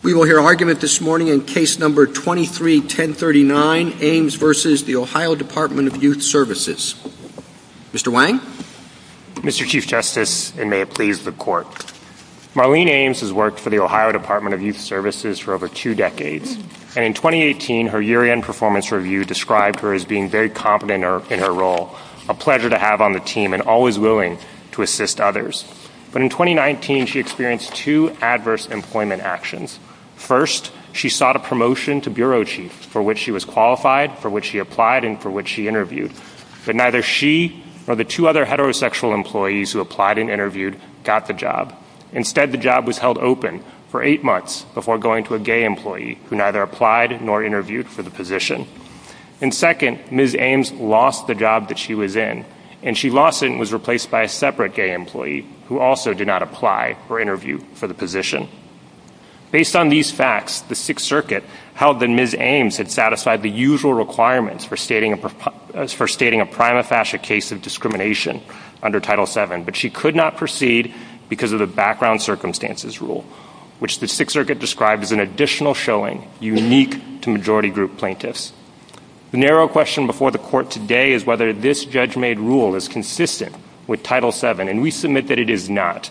We will hear argument this morning in Case No. 23-1039, Ames v. OH Dept. of Youth Services. Mr. Wang? Mr. Chief Justice, and may it please the Court, Marlene Ames has worked for the OH Dept. of Youth Services for over two decades, and in 2018, her year-end performance review described her as being very competent in her role, a pleasure to have on the team, and always willing to assist others. But in 2019, she experienced two adverse employment actions. First, she sought a promotion to Bureau Chief, for which she was qualified, for which she applied, and for which she interviewed. But neither she nor the two other heterosexual employees who applied and interviewed got the job. Instead, the job was held open for eight months before going to a gay employee who neither applied nor interviewed for the position. And second, Ms. Ames lost the job that she was in, and she lost it and was replaced by a separate gay employee who also did not apply or interview for the position. Based on these facts, the Sixth Circuit held that Ms. Ames had satisfied the usual requirements for stating a prima facie case of discrimination under Title VII, but she could not proceed because of the background circumstances rule, which the Sixth Circuit described as an additional showing unique to majority group plaintiffs. The narrow question before the court today is whether this judge-made rule is consistent with Title VII, and we submit that it is not.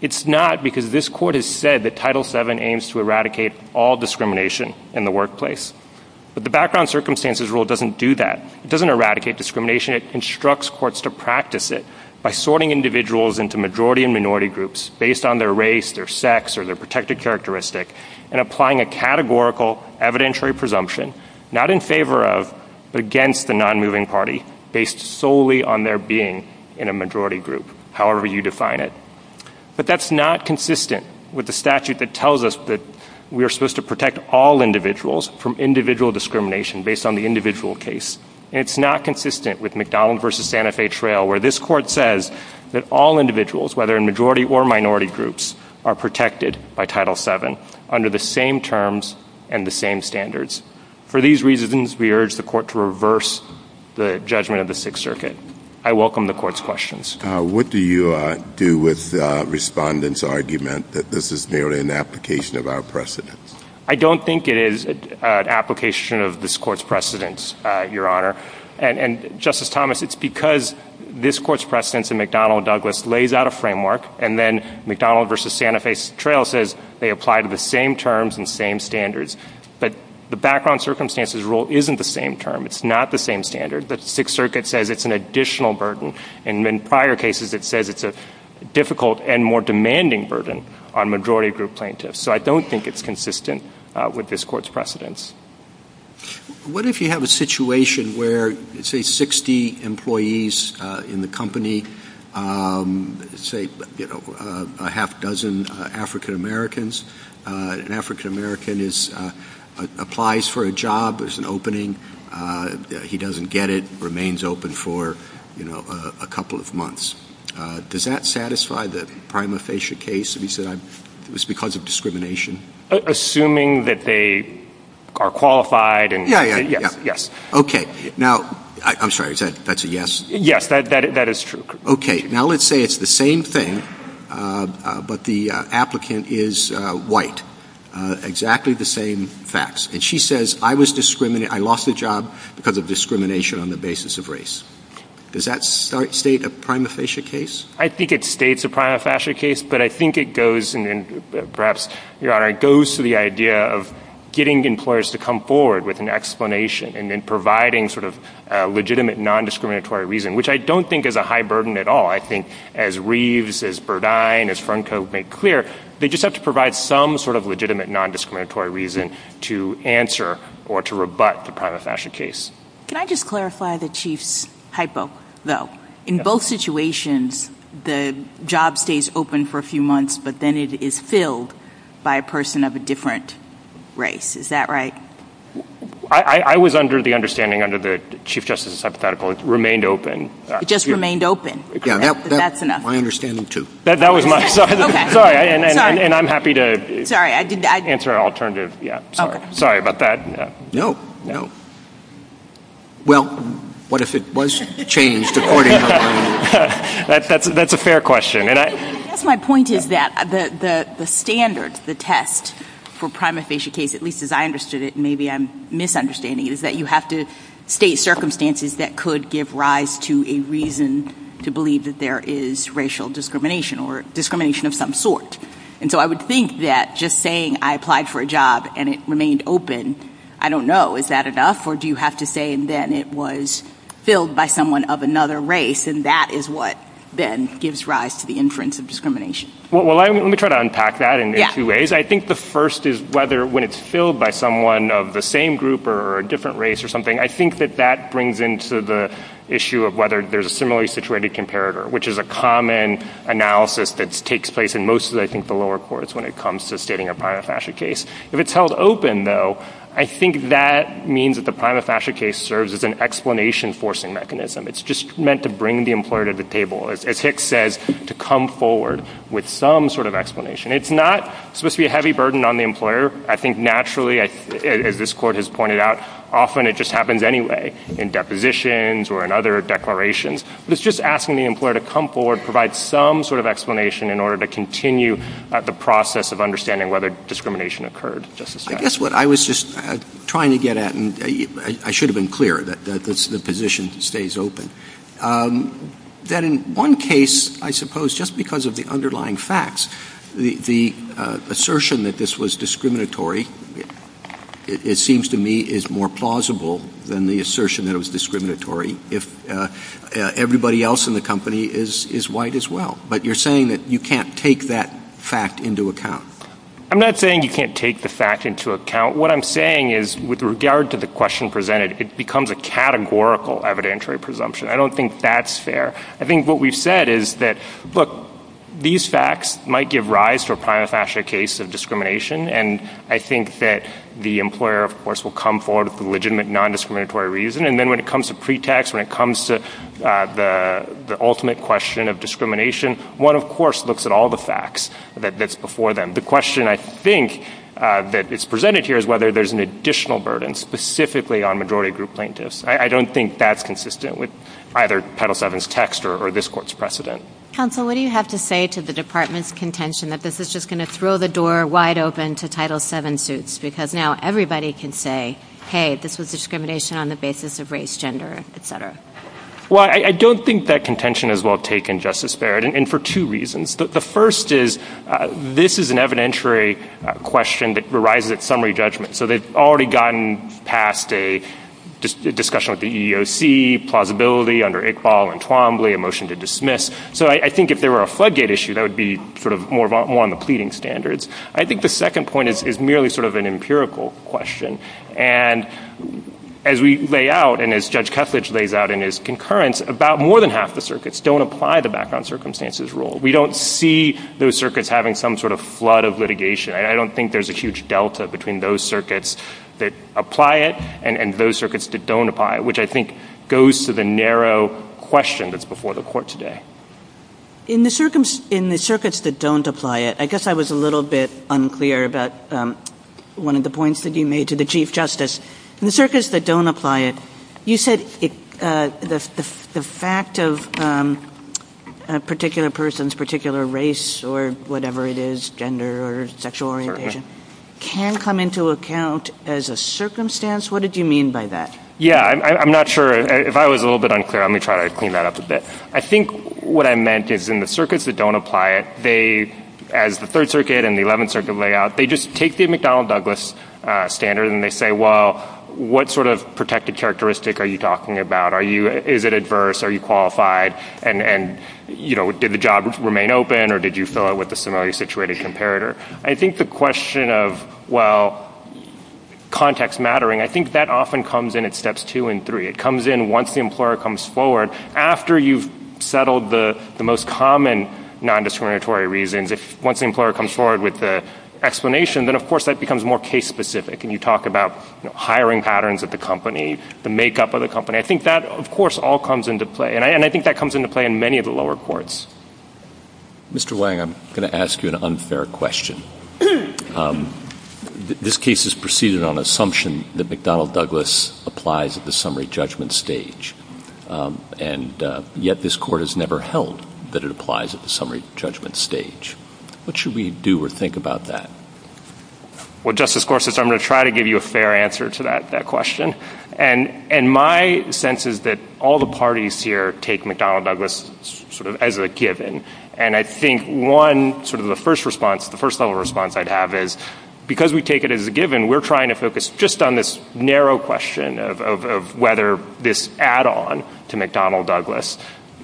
It's not because this court has said that Title VII aims to eradicate all discrimination in the workplace. But the background circumstances rule doesn't do that. It doesn't eradicate discrimination. It instructs courts to practice it by sorting individuals into majority and minority groups based on their race, their sex, or their gender, not in favor of, but against the non-moving party based solely on their being in a majority group, however you define it. But that's not consistent with the statute that tells us that we are supposed to protect all individuals from individual discrimination based on the individual case. And it's not consistent with McDonald v. Santa Fe Trail, where this court says that all individuals, whether in majority or minority groups, are protected by Title VII under the same terms and the same standards. For these reasons, we urge the court to reverse the judgment of the Sixth Circuit. I welcome the court's questions. What do you do with respondents' argument that this is merely an application of our precedence? I don't think it is an application of this court's precedence, Your Honor. And, Justice Thomas, it's because this court's precedence in McDonald v. Douglas lays out a framework, and then McDonald v. Santa Fe Trail says they apply to the same terms and same standards. But the background circumstances rule isn't the same term. It's not the same standard. The Sixth Circuit says it's an additional burden. And in prior cases, it says it's a difficult and more demanding burden on majority group plaintiffs. So I don't think it's consistent with this court's precedence. What if you have a situation where, say, 60 employees in the company, say, you know, a half dozen African Americans, an African American applies for a job, there's an opening, he doesn't get it, remains open for, you know, a couple of months. Does that satisfy the prima facie case? He said it was because of discrimination. Assuming that they are qualified and... Yeah, yeah, yeah. Yes. Okay. Now, I'm sorry, that's a yes? Yes, that is true. Okay. Now, let's say it's the same thing, but the applicant is white. Exactly the same facts. And she says, I was discriminated, I lost a job because of discrimination on the basis of race. Does that state a prima facie case? I think it states a prima facie case, but I think it goes, perhaps, Your Honor, it goes to the idea of getting employers to come forward with an explanation and then providing sort of legitimate non-discriminatory reason, which I don't think is a high burden at all. I think as Reeves, as Burdine, as Franco made clear, they just have to provide some sort of legitimate non-discriminatory reason to answer or to rebut the prima facie case. Can I just clarify the Chief's hypo though? In both situations, the job stays open for a few months, but then it is filled by a person of a different race. Is that right? I was under the understanding, under the Chief Justice's hypothetical, it remained open. It just remained open? Yeah. That's enough. My understanding too. That was my... Sorry. And I'm happy to answer an alternative. Yeah. Sorry. Sorry about that. No, no. Well, what if it was changed? That's a fair question. I guess my point is that the standard, the test for prima facie case, at least as I understood it, maybe I'm misunderstanding, is that you have to state circumstances that could give rise to a reason to believe that there is racial discrimination or discrimination of some sort. And I don't know, is that enough or do you have to say, and then it was filled by someone of another race and that is what then gives rise to the inference of discrimination? Well, let me try to unpack that in two ways. I think the first is whether when it's filled by someone of the same group or a different race or something, I think that that brings into the issue of whether there's a similarly situated comparator, which is a common analysis that takes place in most of the, I think, the lower courts when it comes to stating a prima facie case. If it's held open, though, I think that means that the prima facie case serves as an explanation forcing mechanism. It's just meant to bring the employer to the table, as Hicks says, to come forward with some sort of explanation. It's not supposed to be a heavy burden on the employer. I think naturally, as this court has pointed out, often it just happens anyway, in depositions or in other declarations. It's just asking the employer to come forward, provide some sort of explanation in order to continue the process of understanding whether discrimination occurred. I guess what I was just trying to get at, and I should have been clear that the position stays open, that in one case, I suppose, just because of the underlying facts, the assertion that this was discriminatory, it seems to me is more plausible than the assertion that it was discriminatory if everybody else in the company is white as well. But you're saying that you can't take that fact into account. I'm not saying you can't take the fact into account. What I'm saying is, with regard to the question presented, it becomes a categorical evidentiary presumption. I don't think that's fair. I think what we've said is that, look, these facts might give rise to a prima facie case of discrimination, and I think that the employer, of course, will come forward with a legitimate nondiscriminatory reason. And then when it comes to pretext, when it comes to the ultimate question of discrimination, one, of course, looks at all the facts that's before them. The question, I think, that is presented here is whether there's an additional burden specifically on majority group plaintiffs. I don't think that's consistent with either Title VII's text or this Court's precedent. Counsel, what do you have to say to the Department's contention that this is just going to throw the door wide open to Title VII suits, because now everybody can say, hey, this was discrimination on the basis of race, gender, et cetera? Well, I don't think that contention is well taken, Justice Barrett, and for two reasons. The first is this is an evidentiary question that arises at summary judgment. So they've already gotten past a discussion with the EEOC, plausibility under Iqbal and Twombly, a motion to dismiss. So I think if there were a floodgate issue, that would be sort of more on the pleading standards. I think the second point is merely sort of an empirical question. And as we lay out, and as Judge Kethledge lays out in his concurrence, about more than half the circuits don't apply the background circumstances rule. We don't see those circuits having some sort of flood of litigation. I don't think there's a huge delta between those circuits that apply it and those circuits that don't apply it, which I think goes to the narrow question that's before the Court today. In the circuits that don't apply it, I guess I was a little bit unclear about one of the points that you made to the Chief Justice. In the circuits that don't apply it, you said the fact of a particular person's particular race or whatever it is, gender or sexual orientation, can come into account as a circumstance. What did you mean by that? Yeah, I'm not sure. If I was a little bit unclear, let me try to clean that up a bit. I think what I meant is in the circuits that don't apply it, as the Third Circuit and the Eleventh Circuit lay out, they just take the McDonnell Douglas standard and they say, well, what sort of protected characteristic are you talking about? Is it adverse? Are you qualified? And did the job remain open or did you fill it with a similarly situated comparator? I think the question of, well, context mattering, I think that often comes in at steps two and three. It comes in once the employer comes forward. After you've settled the most common nondiscriminatory reasons, once the employer comes forward with the explanation, then, of course, that becomes more case-specific. And you talk about hiring patterns at the company, the makeup of the company. I think that, of course, all comes into play. And I think that comes into play in many of the lower courts. Mr. Wang, I'm going to ask you an unfair question. This case is proceeded on assumption that McDonnell Douglas applies at the summary judgment stage. And yet, this Court has never held that it applies at the summary judgment stage. What should we do or think about that? Well, Justice Gorsuch, I'm going to try to give you a fair answer to that question. And my sense is that all the parties here take McDonnell Douglas sort of as a given. And I think one sort of the first response, the first level response I'd have is, because we take it as a given, we're trying to focus just on this narrow question of whether this add-on to McDonnell Douglas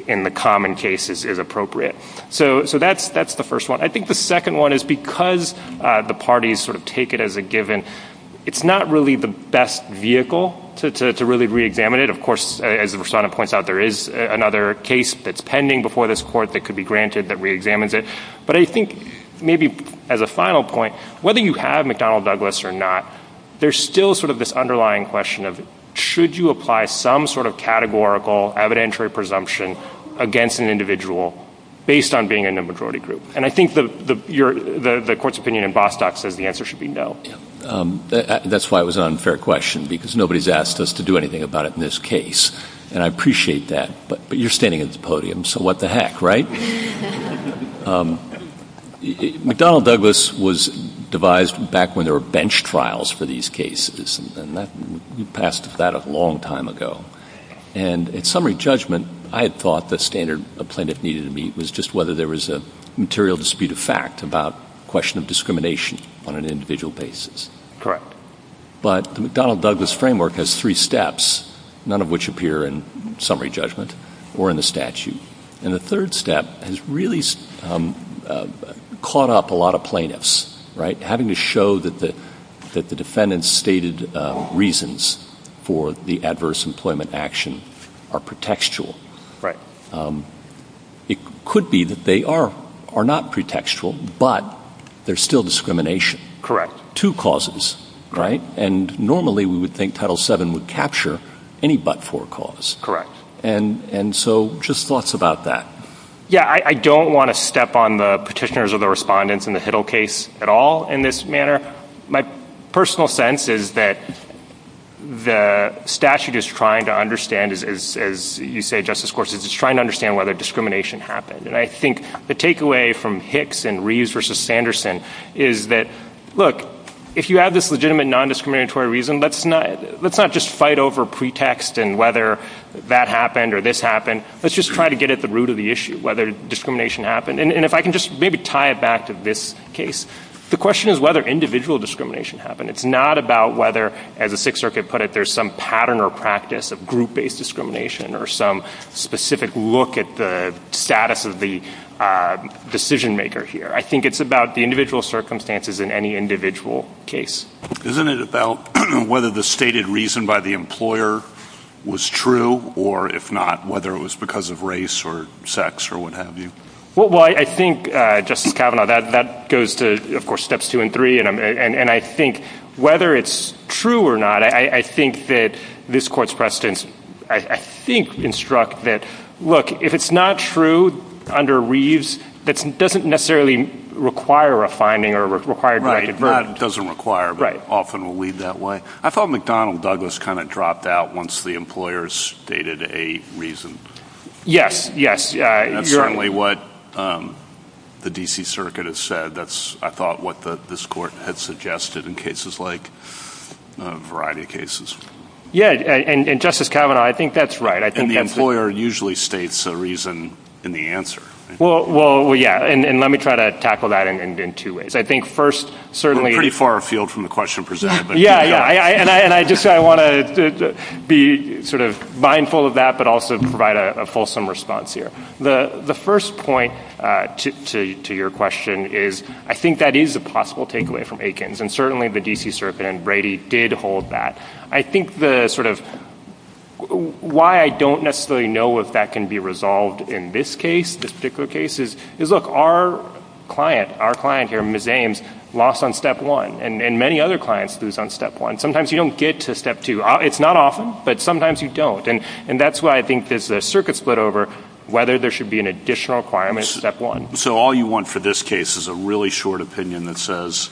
in the common case is appropriate. So that's the first one. I think the second one is because the parties sort of take it as a given, it's not really the best vehicle to really reexamine it. Of course, as the Respondent points out, there is another case that's pending before this Court that could be granted that reexamines it. But I think maybe as a final point, whether you have McDonnell Douglas or not, there's still sort of this underlying question of, should you apply some sort of categorical evidentiary presumption against an individual based on being in a majority group? And I think the Court's opinion in Bostock says the answer should be no. That's why it was an unfair question, because nobody's asked us to do anything about it in this case. And I appreciate that. But you're standing at the podium, so what the heck, right? McDonnell Douglas was devised back when there were bench trials for these cases, and you passed that a long time ago. And at summary judgment, I had thought the standard a plaintiff needed to meet was just whether there was a material dispute of fact about a question of discrimination on an individual basis. Correct. But the McDonnell Douglas framework has three steps, none of which appear in summary judgment or in the statute. And the third step has really caught up a lot of plaintiffs, right? Having to show that the defendant's stated reasons for the adverse employment action are pretextual. Right. It could be that they are not pretextual, but there's still discrimination. Correct. Two causes, right? And normally we would think Title VII would capture any but-for cause. Correct. And so just thoughts about that. Yeah, I don't want to step on the petitioners or the respondents in the Hiddle case at all in this manner. My personal sense is that the statute is trying to understand, as you say, Justice Gorsuch, it's trying to understand whether discrimination happened. And I think the takeaway from Hicks and Reeves versus Sanderson is that, look, if you have this legitimate nondiscriminatory reason, let's not just fight over pretext and whether that happened or this happened. Let's just try to get the root of the issue, whether discrimination happened. And if I can just maybe tie it back to this case, the question is whether individual discrimination happened. It's not about whether, as the Sixth Circuit put it, there's some pattern or practice of group-based discrimination or some specific look at the status of the decision-maker here. I think it's about the individual circumstances in any individual case. Isn't it about whether the stated reason by the employer was true or, if not, whether it was because of race or sex or what have you? Well, I think, Justice Kavanaugh, that goes to, of course, steps two and three. And I think whether it's true or not, I think that this Court's precedents, I think, instruct that, look, if it's not true under Reeves, that doesn't necessarily require a finding or require direct verdict. Doesn't require, but often will lead that way. I thought McDonnell Douglas kind of dropped out once the employer stated a reason. Yes, yes. That's certainly what the D.C. Circuit has said. That's, I thought, what this Court had suggested in cases like a variety of cases. Yeah. And Justice Kavanaugh, I think that's right. And the employer usually states a reason in the answer. Well, yeah. And let me try to tackle that in two ways. I think first, pretty far afield from the question presented. Yeah, yeah. And I just want to be sort of mindful of that, but also provide a fulsome response here. The first point to your question is, I think that is a possible takeaway from Aikens. And certainly the D.C. Circuit and Brady did hold that. I think the sort of why I don't necessarily know if that can be resolved in this case, this particular case, is look, our client, our client here, Ms. Ames, lost on step one. And many other clients lose on step one. Sometimes you don't get to step two. It's not often, but sometimes you don't. And that's why I think there's a circuit split over whether there should be an additional requirement on step one. So all you want for this case is a really short opinion that says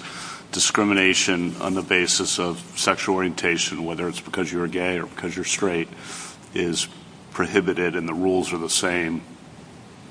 discrimination on the basis of sexual orientation, whether it's because you're straight or because you're gay or because you're straight, is prohibited and the rules are the same,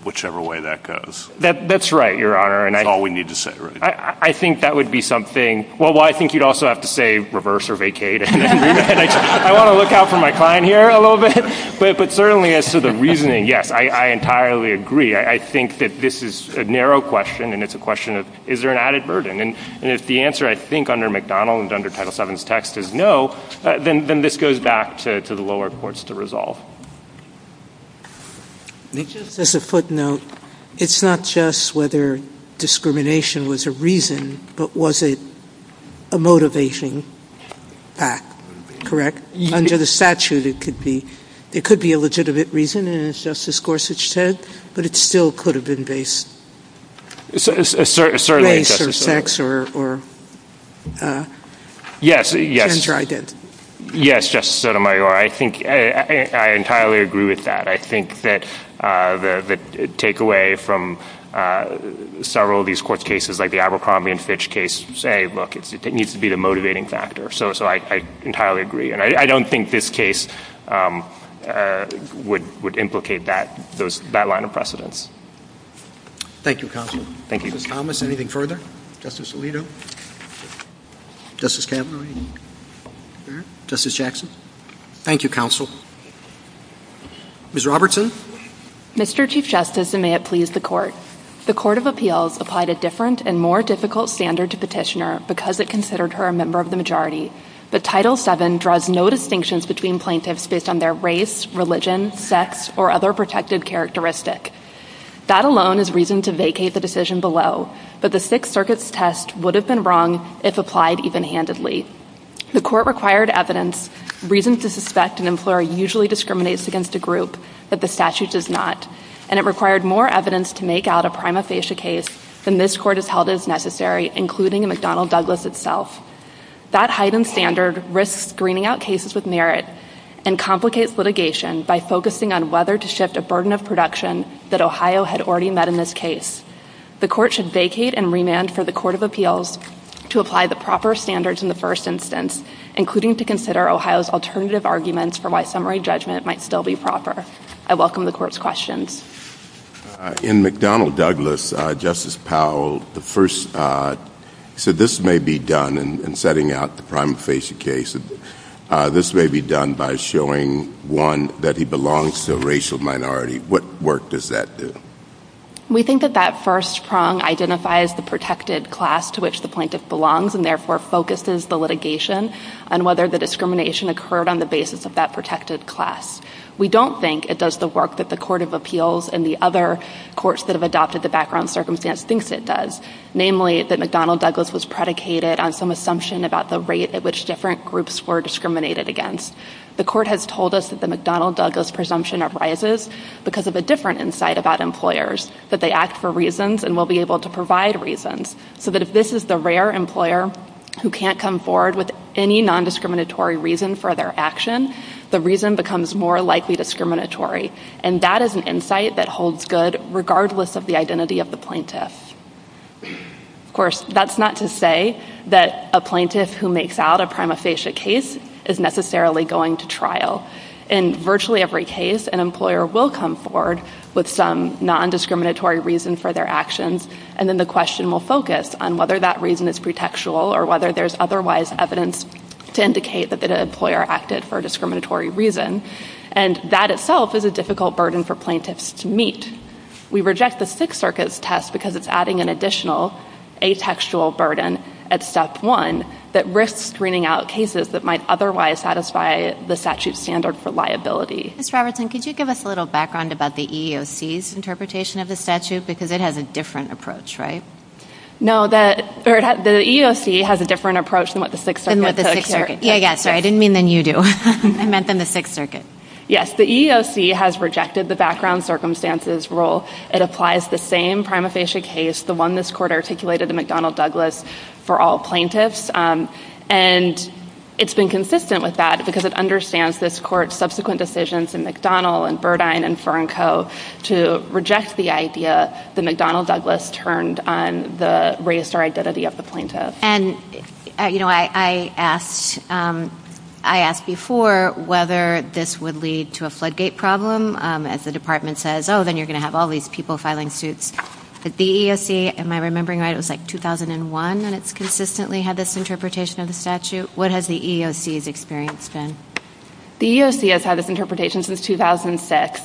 whichever way that goes. That's right, Your Honor. That's all we need to say, right? I think that would be something. Well, I think you'd also have to say reverse or vacate. I want to look out for my client here a little bit. But certainly as to the reasoning, yes, I entirely agree. I think that this is a narrow question and it's a question of, is there an added burden? And if the answer, I think, under McDonald and under Title VII's text is no, then this goes back to the lower courts to resolve. Just as a footnote, it's not just whether discrimination was a reason, but was it a motivating fact, correct? Under the statute, it could be. It could be a legitimate reason, and as Justice Gorsuch said, but it still could have been based on race or sex or... Yes, yes. Yes, Justice Sotomayor. I think I entirely agree with that. I think that the takeaway from several of these court cases, like the Abercrombie and Fitch case, say, look, it needs to be the motivating factor. So I entirely agree. And I don't think this case would implicate that line of precedence. Thank you, counsel. Thank you. Justice Thomas, anything further? Justice Alito? Justice Kavanaugh? Justice Jackson? Thank you, counsel. Ms. Robertson? Mr. Chief Justice, and may it please the Court, the Court of Appeals applied a different and more difficult standard to Petitioner because it considered her a member of the majority. But Title VII draws no distinctions between plaintiffs based on their race, religion, sex, or other protected characteristic. That alone is reason to vacate the decision below. The Sixth Circuit's test would have been wrong if applied even-handedly. The Court required evidence, reason to suspect an employer usually discriminates against a group that the statute does not. And it required more evidence to make out a prima facie case than this Court has held as necessary, including McDonnell Douglas itself. That heightened standard risks screening out cases with merit and complicates litigation by focusing on whether to shift a burden of production that Ohio had already met in this case. The Court should vacate and remand for the Court of Appeals to apply the proper standards in the first instance, including to consider Ohio's alternative arguments for why summary judgment might still be proper. I welcome the Court's questions. In McDonnell Douglas, Justice Powell, the first, he said this may be done in setting out the prima facie case. This may be done by showing, one, that he belongs to a racial minority. What work does that do? We think that that first prong identifies the protected class to which the plaintiff belongs and therefore focuses the litigation on whether the discrimination occurred on the basis of that protected class. We don't think it does the work that the Court of Appeals and the other courts that have adopted the background circumstance thinks it does, namely that McDonnell Douglas was predicated on some assumption about the rate at which different groups were discriminated against. The Court has told us that the McDonnell Douglas presumption arises because of a different insight about employers, that they act for reasons and will be able to provide reasons, so that if this is the rare employer who can't come forward with any nondiscriminatory reason for their action, the reason becomes more likely discriminatory, and that is an insight that holds good regardless of the identity of the plaintiff. Of course, that's not to say that a plaintiff who makes out a prima facie case is necessarily going to trial. In virtually every case, an employer will come forward with some nondiscriminatory reason for their actions, and then the question will focus on whether that reason is pretextual or whether there's otherwise evidence to indicate that an employer acted for a discriminatory reason, and that itself is a difficult burden for plaintiffs to meet. We reject the Sixth Circuit's test because it's adding an additional atextual burden at step one that risks screening out cases that might otherwise satisfy the statute's standard for liability. Ms. Robertson, could you give us a little background about the EEOC's interpretation of the statute, because it has a different approach, right? No, the EEOC has a different approach than what the Sixth Circuit took. Yeah, yeah, sorry, I didn't mean than you do. I meant than the Sixth Circuit. Yes, the EEOC has rejected the background circumstances rule. It applies the same case, the one this Court articulated to McDonnell Douglas for all plaintiffs, and it's been consistent with that because it understands this Court's subsequent decisions in McDonnell and Burdine and Fernco to reject the idea that McDonnell Douglas turned on the race or identity of the plaintiff. And, you know, I asked before whether this would lead to a floodgate problem, as the Department says, oh, then you're going to all these people filing suits. The EEOC, am I remembering right, it was like 2001, and it's consistently had this interpretation of the statute. What has the EEOC's experience been? The EEOC has had this interpretation since 2006.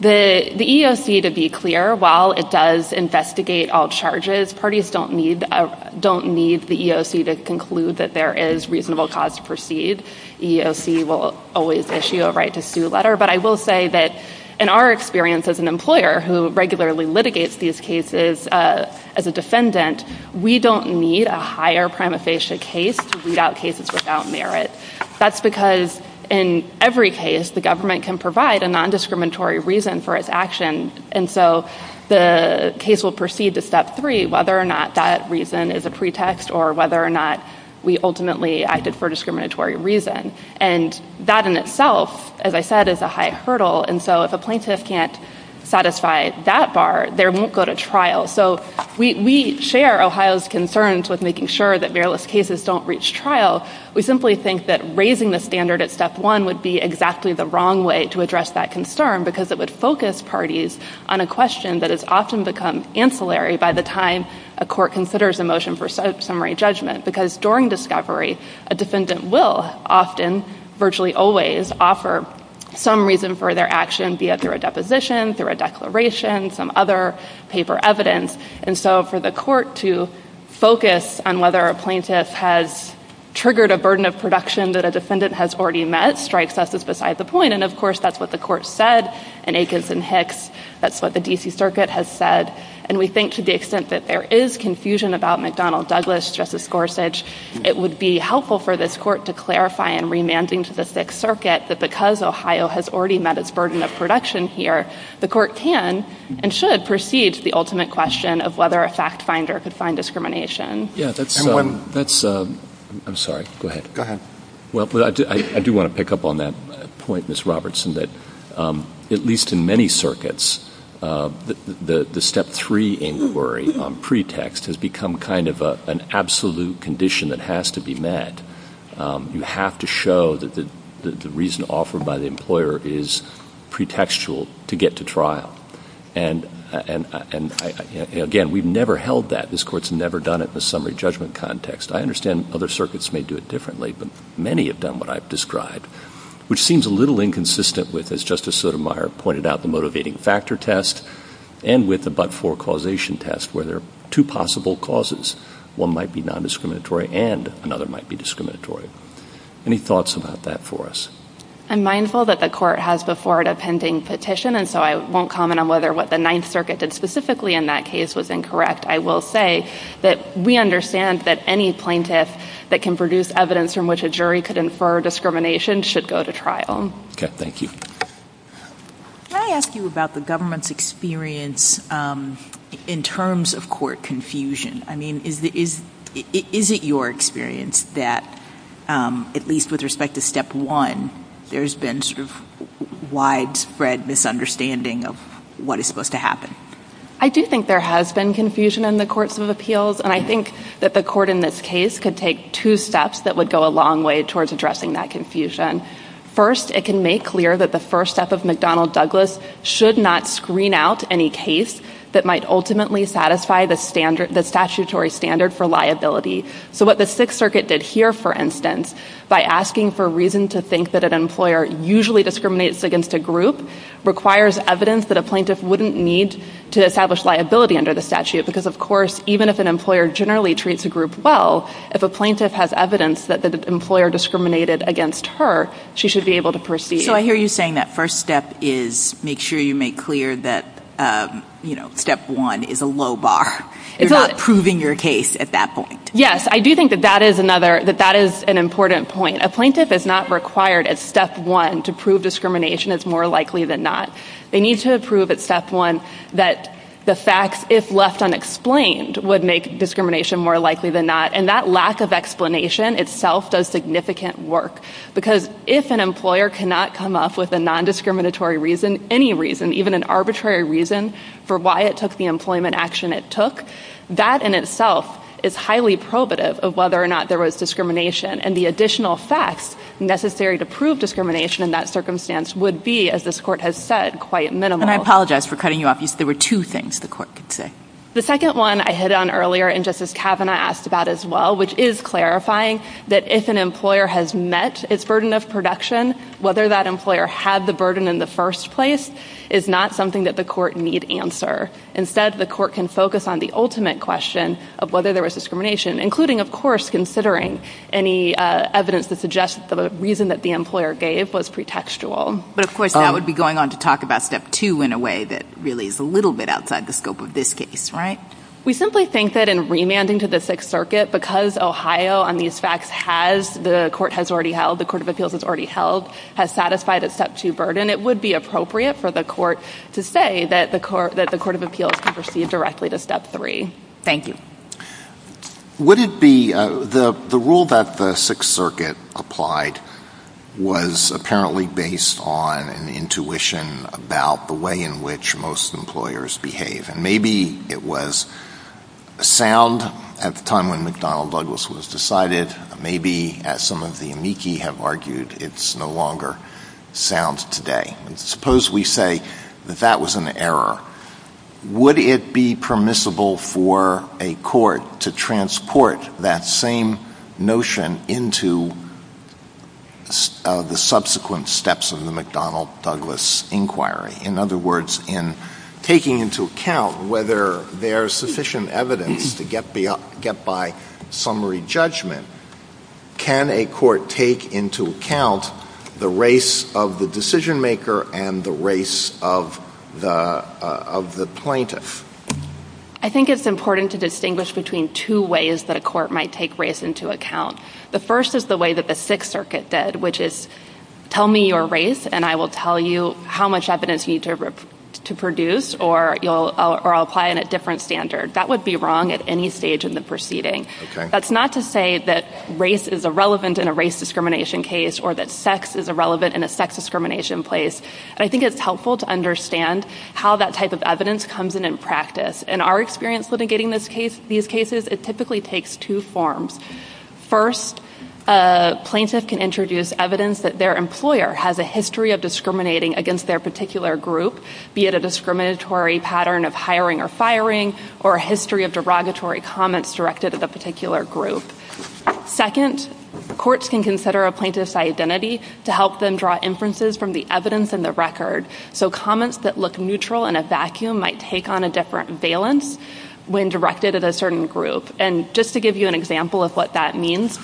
The EEOC, to be clear, while it does investigate all charges, parties don't need the EEOC to conclude that there is reasonable cause to proceed. The EEOC will always issue a right to sue letter, but I will say that in our experience as an employer who regularly litigates these cases as a defendant, we don't need a higher prima facie case to weed out cases without merit. That's because in every case the government can provide a nondiscriminatory reason for its action, and so the case will proceed to step three, whether or not that reason is a pretext or whether or not we ultimately acted for discriminatory reason, and that in itself, as I said, is a high hurdle, and so if a plaintiff can't satisfy that bar, they won't go to trial. So we share Ohio's concerns with making sure that meritless cases don't reach trial. We simply think that raising the standard at step one would be exactly the wrong way to address that concern, because it would focus parties on a question that has often become ancillary by the time a court considers a motion for summary judgment, because during discovery, a defendant will often, virtually always, offer some reason for their action, be it through a deposition, through a declaration, some other paper evidence, and so for the court to focus on whether a plaintiff has triggered a burden of production that a defendant has already met strikes us as beside the point, and of course that's what the court said in Aikens and Hicks. That's what the D.C. Circuit has said, and we think to the extent that there is confusion about Douglas, Justice Gorsuch, it would be helpful for this court to clarify in remanding to the Sixth Circuit that because Ohio has already met its burden of production here, the court can and should proceed to the ultimate question of whether a fact finder could find discrimination. Yeah, that's, I'm sorry, go ahead. Go ahead. Well, I do want to pick up on that point, Ms. Robertson, that at least in many circuits, the step three inquiry on pretext has become kind of an absolute condition that has to be met. You have to show that the reason offered by the employer is pretextual to get to trial, and again, we've never held that. This court's never done it in a summary judgment context. I understand other circuits may do it differently, but many have done what I've described, which seems a little inconsistent with, as Justice Sotomayor pointed out, the motivating factor test and with the but-for causation test, where there are two possible causes. One might be non-discriminatory and another might be discriminatory. Any thoughts about that for us? I'm mindful that the court has before it a pending petition, and so I won't comment on whether what the Ninth Circuit did specifically in that case was incorrect. I will say that we understand that any plaintiff that can produce evidence from which a jury could infer discrimination should go to trial. Okay, thank you. Can I ask you about the government's experience in terms of court confusion? I mean, is it your experience that, at least with respect to step one, there's been sort of widespread misunderstanding of what is supposed to happen? I do think there has been confusion in the courts of appeals, and I think that the court in this could take two steps that would go a long way towards addressing that confusion. First, it can make clear that the first step of McDonnell Douglas should not screen out any case that might ultimately satisfy the statutory standard for liability. So what the Sixth Circuit did here, for instance, by asking for reason to think that an employer usually discriminates against a group requires evidence that a plaintiff wouldn't need to establish liability under the statute because, of course, even if an employer generally treats a plaintiff well, if a plaintiff has evidence that the employer discriminated against her, she should be able to proceed. So I hear you saying that first step is make sure you make clear that, you know, step one is a low bar. You're not proving your case at that point. Yes, I do think that that is another, that that is an important point. A plaintiff is not required at step one to prove discrimination. It's more likely than not. They need to prove at step one that the facts, if left unexplained, would make discrimination more likely than not. And that lack of explanation itself does significant work. Because if an employer cannot come up with a non-discriminatory reason, any reason, even an arbitrary reason for why it took the employment action it took, that in itself is highly probative of whether or not there was discrimination. And the additional facts necessary to prove discrimination in that circumstance would be, as this Court has said, quite minimal. I apologize for cutting you off. There were two things the Court could say. The second one I hit on earlier and Justice Kavanaugh asked about as well, which is clarifying that if an employer has met its burden of production, whether that employer had the burden in the first place is not something that the Court need answer. Instead, the Court can focus on the ultimate question of whether there was discrimination, including, of course, considering any evidence that suggests that the reason that the employer gave was pretextual. But of course, that would be going on to talk about step two in a way that really is a little bit outside the scope of this case, right? We simply think that in remanding to the Sixth Circuit, because Ohio on these facts has, the Court has already held, the Court of Appeals has already held, has satisfied its step two burden, it would be appropriate for the Court to say that the Court of Appeals can proceed directly to step three. Thank you. Would it be, the rule that the Sixth Circuit applied was apparently based on an intuition about the way in which most employers behave, and maybe it was sound at the time when McDonnell Douglas was decided. Maybe, as some of the amici have argued, it's no longer sound today. Suppose we say that that was an error. Would it be permissible for a court to transport that same notion into the subsequent steps of the McDonnell Douglas inquiry? In other words, in taking into account whether there's sufficient evidence to get by summary judgment, can a court take into account the race of the decision-maker and the race of the plaintiff? I think it's important to distinguish between two ways that a court might take race into account. The first is the way that the Sixth Circuit did, which is, tell me your race, and I will tell you how much evidence you need to produce, or I'll apply it in a different standard. That would be wrong at any stage in the proceeding. That's not to say that race is irrelevant in a race discrimination case, or that sex is irrelevant in a sex discrimination case. I think it's helpful to understand how that type of evidence comes in in practice. In our experience litigating these cases, it typically takes two forms. First, a plaintiff can introduce evidence that their employer has a history of discriminating against their particular group, be it a discriminatory pattern of hiring or firing, or a history of derogatory comments directed at a particular group. Second, courts can consider a plaintiff's identity to help them draw inferences from the evidence in the record, so comments that look neutral in a vacuum might take on a different valence when directed at a certain group. And just to give you an example of what that means,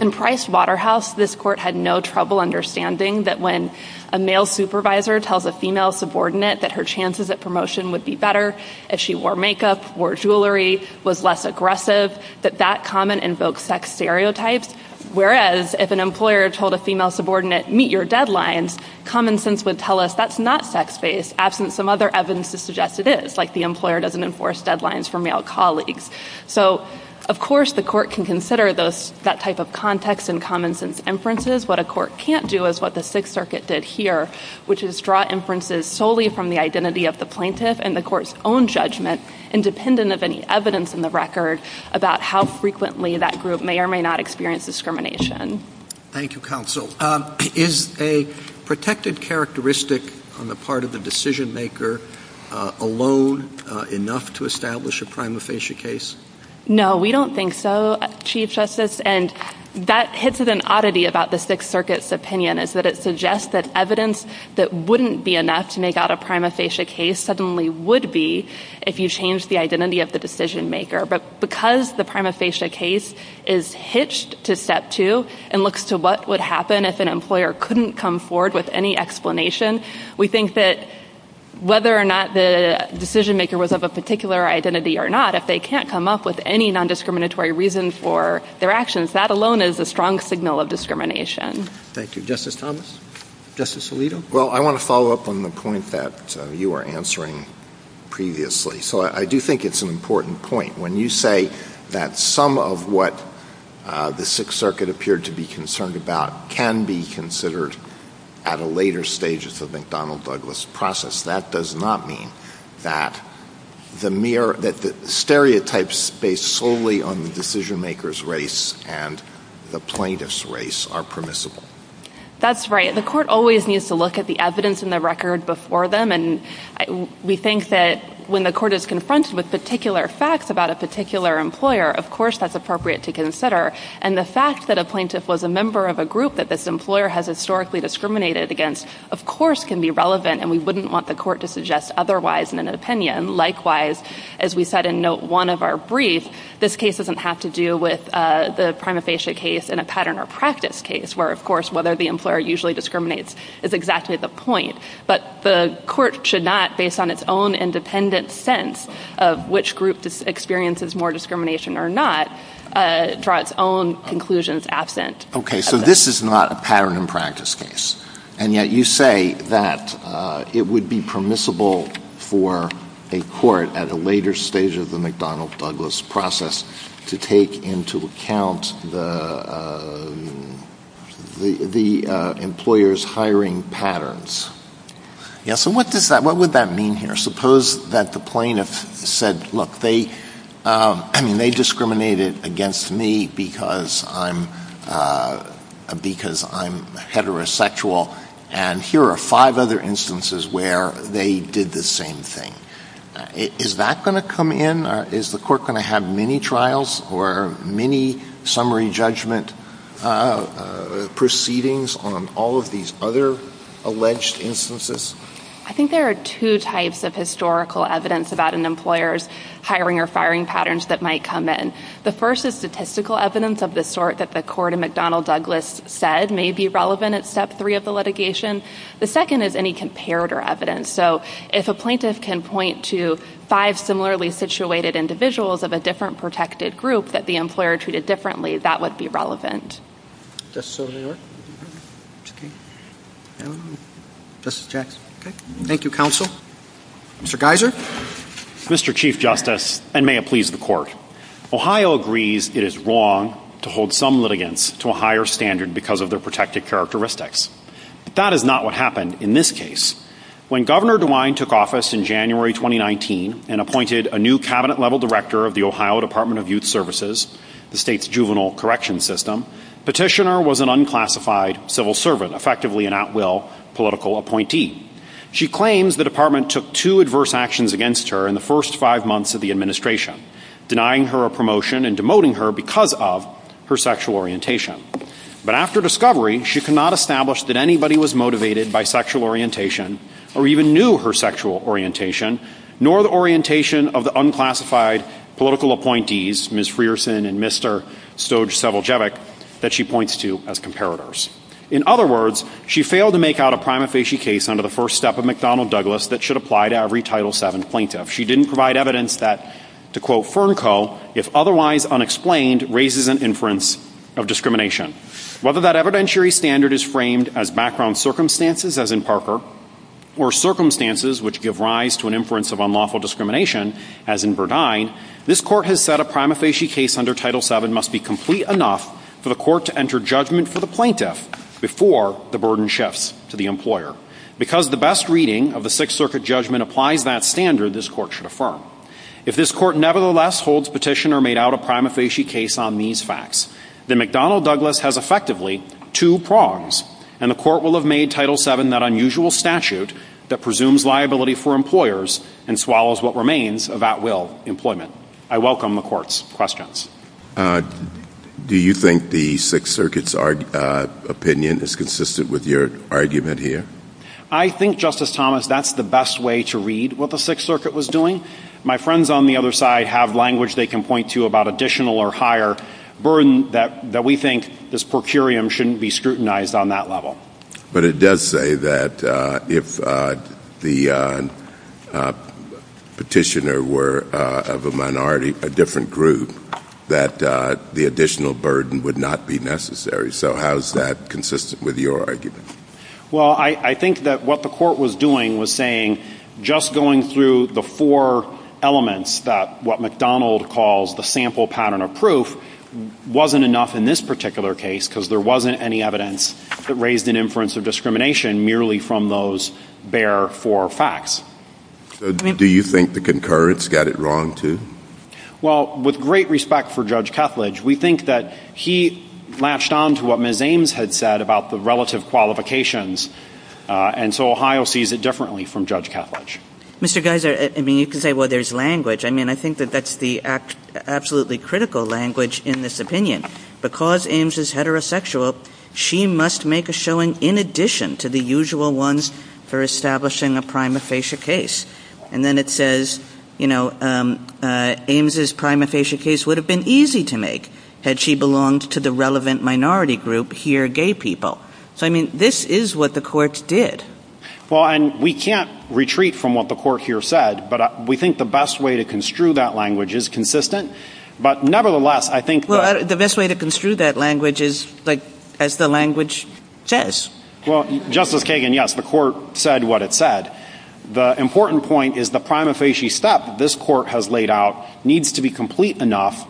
in Price Waterhouse, this court had no trouble understanding that when a male supervisor tells a female subordinate that her chances at promotion would be better if she wore makeup, wore jewelry, was less aggressive, that that comment invokes sex stereotypes. Whereas if an employer told a female subordinate, meet your deadlines, common sense would tell us that's not sex-based, absent some other evidence to suggest it is, like the employer doesn't enforce deadlines for male colleagues. So of course the court can consider that type of context and common sense inferences. What a court can't do is what the Sixth Circuit did here, which is draw inferences solely from the identity of the plaintiff and the court's own judgment independent of any evidence in the record about how frequently that group may or may not experience discrimination. Thank you, counsel. Is a protected characteristic on the part of the decision maker alone enough to establish a prima facie case? No, we don't think so, Chief Justice. And that hits at an oddity about the Sixth Circuit's opinion, is that it suggests that evidence that wouldn't be enough to make out a prima facie case suddenly would be if you change the identity of the decision maker. But because the prima facie case is hitched to step two and looks to what would happen if an employer couldn't come forward with any explanation, we think that whether or not the decision maker was of a particular identity or not, if they can't come up with any non-discriminatory reason for their actions, that alone is a strong signal of discrimination. Thank you. Justice Thomas? Justice Alito? Well, I want to follow up on the point that you were answering previously. So I do think it's an important point. When you say that some of what the Sixth Circuit appeared to be concerned about can be considered at a later stage of the McDonnell-Douglas process, that does not mean that the stereotypes based solely on the decision maker's race and the plaintiff's race are permissible. That's right. The court always needs to look at the evidence in the record before them. And we think that when the court is confronted with particular facts about a particular employer, of course that's appropriate to consider. And the fact that a plaintiff was a member of a group that this employer has historically discriminated against, of course, can be we wouldn't want the court to suggest otherwise in an opinion. Likewise, as we said in note one of our brief, this case doesn't have to do with the prima facie case in a pattern or practice case, where, of course, whether the employer usually discriminates is exactly the point. But the court should not, based on its own independent sense of which group experiences more discrimination or not, draw its own conclusions absent. Okay. So this is not a pattern and practice case. And yet you say that it would be permissible for a court at a later stage of the McDonnell-Douglas process to take into account the employer's hiring patterns. Yeah. So what does that what would that mean here? Suppose that the plaintiff said, look, they discriminated against me because I'm heterosexual. And here are five other instances where they did the same thing. Is that going to come in? Is the court going to have mini trials or mini summary judgment proceedings on all of these other alleged instances? I think there are two types of historical evidence about an employer's hiring or firing patterns that might come in. The first is statistical evidence of the sort that the court at McDonnell-Douglas said may be relevant at step three of the litigation. The second is any comparator evidence. So if a plaintiff can point to five similarly situated individuals of a different protected group that the employer treated differently, that would be relevant. Justice Sotomayor? Justice Jackson? Okay. Thank you, counsel. Mr. Geiser? Mr. Chief Justice, and may it please the court, Ohio agrees it is wrong to hold some litigants to a higher standard because of their protected characteristics. But that is not what happened in this case. When Governor DeWine took office in January 2019 and appointed a new cabinet-level director of the Ohio Department of Youth Services, the state's juvenile correction system, petitioner was an unclassified civil servant, effectively an at-will political appointee. She claims the department took two adverse actions against her in the first five months of the administration, denying her a promotion and demoting her because of her sexual orientation. But after discovery, she could not establish that anybody was motivated by sexual orientation or even knew her sexual orientation, nor the orientation of the unclassified political appointees, Ms. Frierson and Mr. Stojceviljevic, that she points to as comparators. In other words, she failed to make out a prima facie case under the first step of McDonnell Douglas that should apply to every Title VII plaintiff. She didn't provide evidence that, to quote Fernco, if otherwise unexplained, raises an inference of discrimination. Whether that evidentiary standard is framed as background circumstances, as in Parker, or circumstances which give rise to an inference of unlawful discrimination, as in Burdine, this court has said a prima facie case under Title VII must be complete enough for the court to enter judgment for the plaintiff before the burden shifts to the employer. Because the best reading of the Sixth Circuit judgment applies that standard, this court should affirm. If this court nevertheless holds petition or made out a prima facie case on these facts, then McDonnell Douglas has effectively two prongs, and the court will have made Title VII that unusual statute that presumes liability for employers and swallows what remains of at-will employment. I welcome the court's questions. Uh, do you think the Sixth Circuit's opinion is consistent with your argument here? I think, Justice Thomas, that's the best way to read what the Sixth Circuit was doing. My friends on the other side have language they can point to about additional or higher burden that we think this per curiam shouldn't be scrutinized on that level. But it does say that if the petitioner were of a minority, a different group, that the additional burden would not be necessary. So how is that consistent with your argument? Well, I think that what the court was doing was saying just going through the four elements that what McDonnell calls the sample pattern of proof wasn't enough in this particular case, because there wasn't any evidence that raised an inference of discrimination merely from those bare four facts. Do you think the concurrence got it wrong, too? Well, with great respect for Judge Kethledge, we think that he latched on to what Ms. Ames had said about the relative qualifications, and so Ohio sees it differently from Judge Kethledge. Mr. Geiser, I mean, you can say, well, there's language. I mean, I think that that's the absolutely critical language in this opinion. Because Ames is heterosexual, she must make a showing in addition to the usual ones for establishing a prima facie case. And then it says, you know, Ames's prima facie case would have been easy to make had she belonged to the relevant minority group here, gay people. So, I mean, this is what the court did. Well, and we can't retreat from what the court here said, but we think the best way to construe that language is consistent. But nevertheless, I think that— The best way to construe that language is, like, as the language says. Well, Justice Kagan, yes, the court said what it said. The important point is the prima facie step this court has laid out needs to be complete enough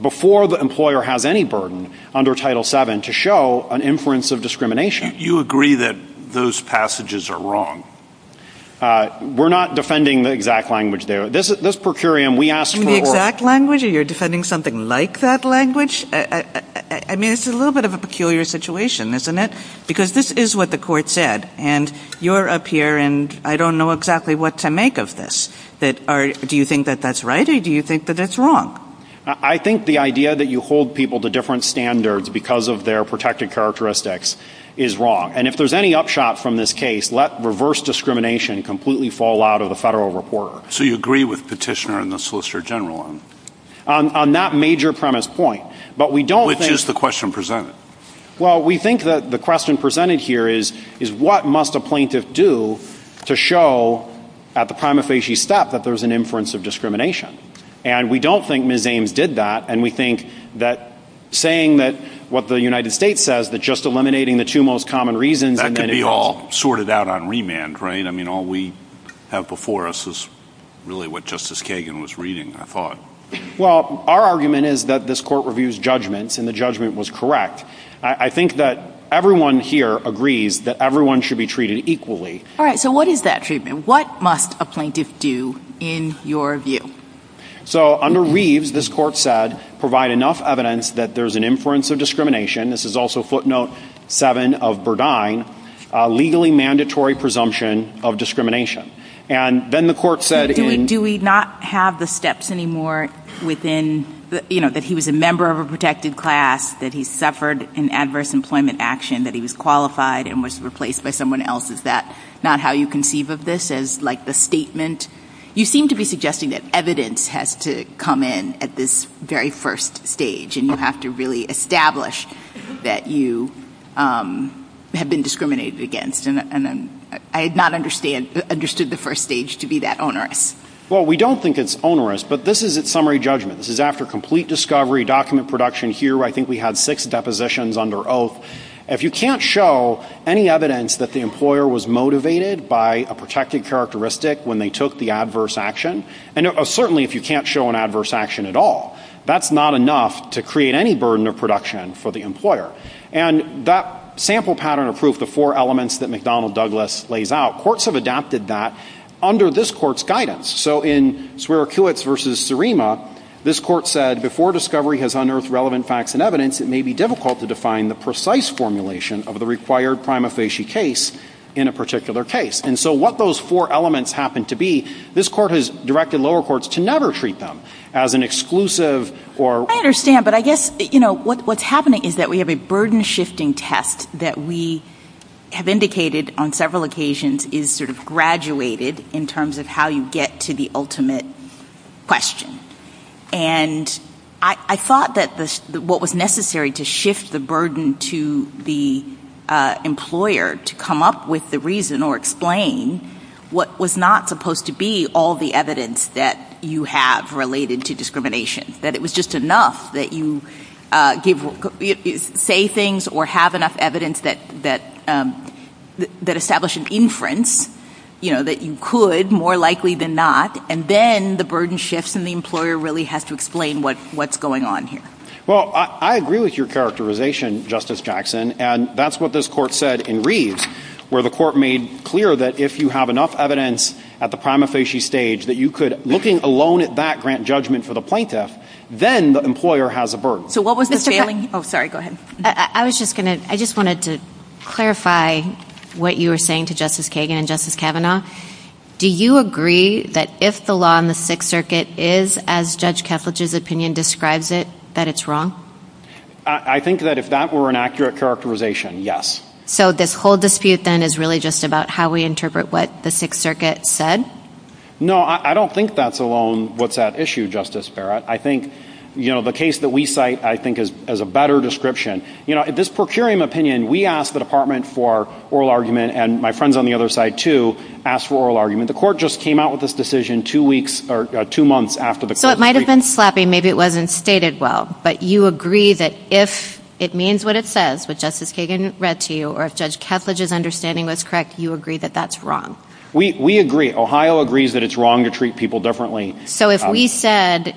before the employer has any burden under Title VII to show an inference of discrimination. You agree that those passages are wrong? We're not defending the exact language there. This per curiam, we asked for— The exact language? You're defending something like that language? I mean, it's a little bit of a peculiar situation, isn't it? Because this is what the court said, and you're up here, and I don't know exactly what to make of this. Do you think that that's right, or do you think that that's wrong? I think the idea that you hold people to different standards because of their protected characteristics is wrong. And if there's any upshot from this case, let reverse discrimination completely fall out of the federal reporter. So you agree with Petitioner and the Solicitor General on— On that major premise point. But we don't think— Which is the question presented? Well, we think that the question presented here is, what must a plaintiff do to show at the prima facie step that there's an inference of discrimination? And we don't think Ms. Ames did that, and we think that saying that what the United States says, that just eliminating the two most common reasons— That could be all sorted out on remand, right? I mean, all we have before us is really what Justice Kagan was reading, I thought. Well, our argument is that this Court reviews judgments, and the judgment was correct. I think that everyone here agrees that everyone should be treated equally. All right, so what is that treatment? What must a plaintiff do in your view? So under Reeves, this Court said, provide enough evidence that there's an inference of discrimination—this is also footnote 7 of Burdine—legally mandatory presumption of discrimination. And then the Court said in— Do we not have the steps anymore within, you know, that he was a member of a protected class, that he suffered an adverse employment action, that he was qualified and was replaced by someone else? Is that not how you conceive of this, as like the statement? You seem to be suggesting that evidence has to come in at this very first stage, and you have to really establish that you have been discriminated against, and I had not understood the first stage to be that onerous. Well, we don't think it's onerous, but this is its summary judgment. This is after complete discovery, document production, here I think we had six depositions under oath. If you can't show any evidence that the employer was motivated by a protected characteristic when they took the adverse action, and certainly if you can't show an adverse action at all, that's not enough to create any burden of production for the employer. And that sample pattern of proof, the four elements that McDonnell Douglas lays out, courts have adapted that under this court's guidance. So in Swearer-Kiwitz v. Surima, this court said before discovery has unearthed relevant facts and evidence, it may be difficult to define the precise formulation of the required prima facie case in a particular case. And so what those four elements happen to be, this court has directed lower courts to never treat them as an exclusive or — I understand, but I guess, you know, what's happening is that we have a burden-shifting test that we have indicated on several occasions is sort of graduated in terms of how you get to the ultimate question. And I thought that what was necessary to shift the burden to the employer to come up with the reason or explain what was not supposed to be all the evidence that you have related to discrimination, that it was just enough that you say things or have enough evidence that establish an inference, you know, that you could more likely than not, and then the burden shifts and the employer really has to explain what's going on here. Well, I agree with your characterization, Justice Jackson, and that's what this court said in Reeves, where the court made clear that if you have enough evidence at the prima facie stage that you could, looking alone at that grant judgment for the plaintiff, then the employer has a burden. So what was the failing — Oh, sorry. Go ahead. I was just going to — I just wanted to clarify what you were saying to Justice Kagan and Justice Kavanaugh. Do you agree that if the law in the Sixth Circuit is, as Judge Kethledge's opinion describes it, that it's wrong? I think that if that were an accurate characterization, yes. So this whole dispute, then, is really just about how we interpret what the Sixth Circuit said? No, I don't think that's alone what's at issue, Justice Barrett. I think, you know, the case that we cite, I think, is a better description. You know, this procurium opinion, we asked the department for oral argument, and my friends on the other side, too, asked for oral argument. The court just came out with this decision two weeks — or two months after the court So it might have been slappy. Maybe it wasn't stated well. But you agree that if it means what it says, what Justice Kagan read to you, or if Judge Kethledge's understanding was correct, you agree that that's wrong? We agree. Ohio agrees that it's wrong to treat people differently. So if we said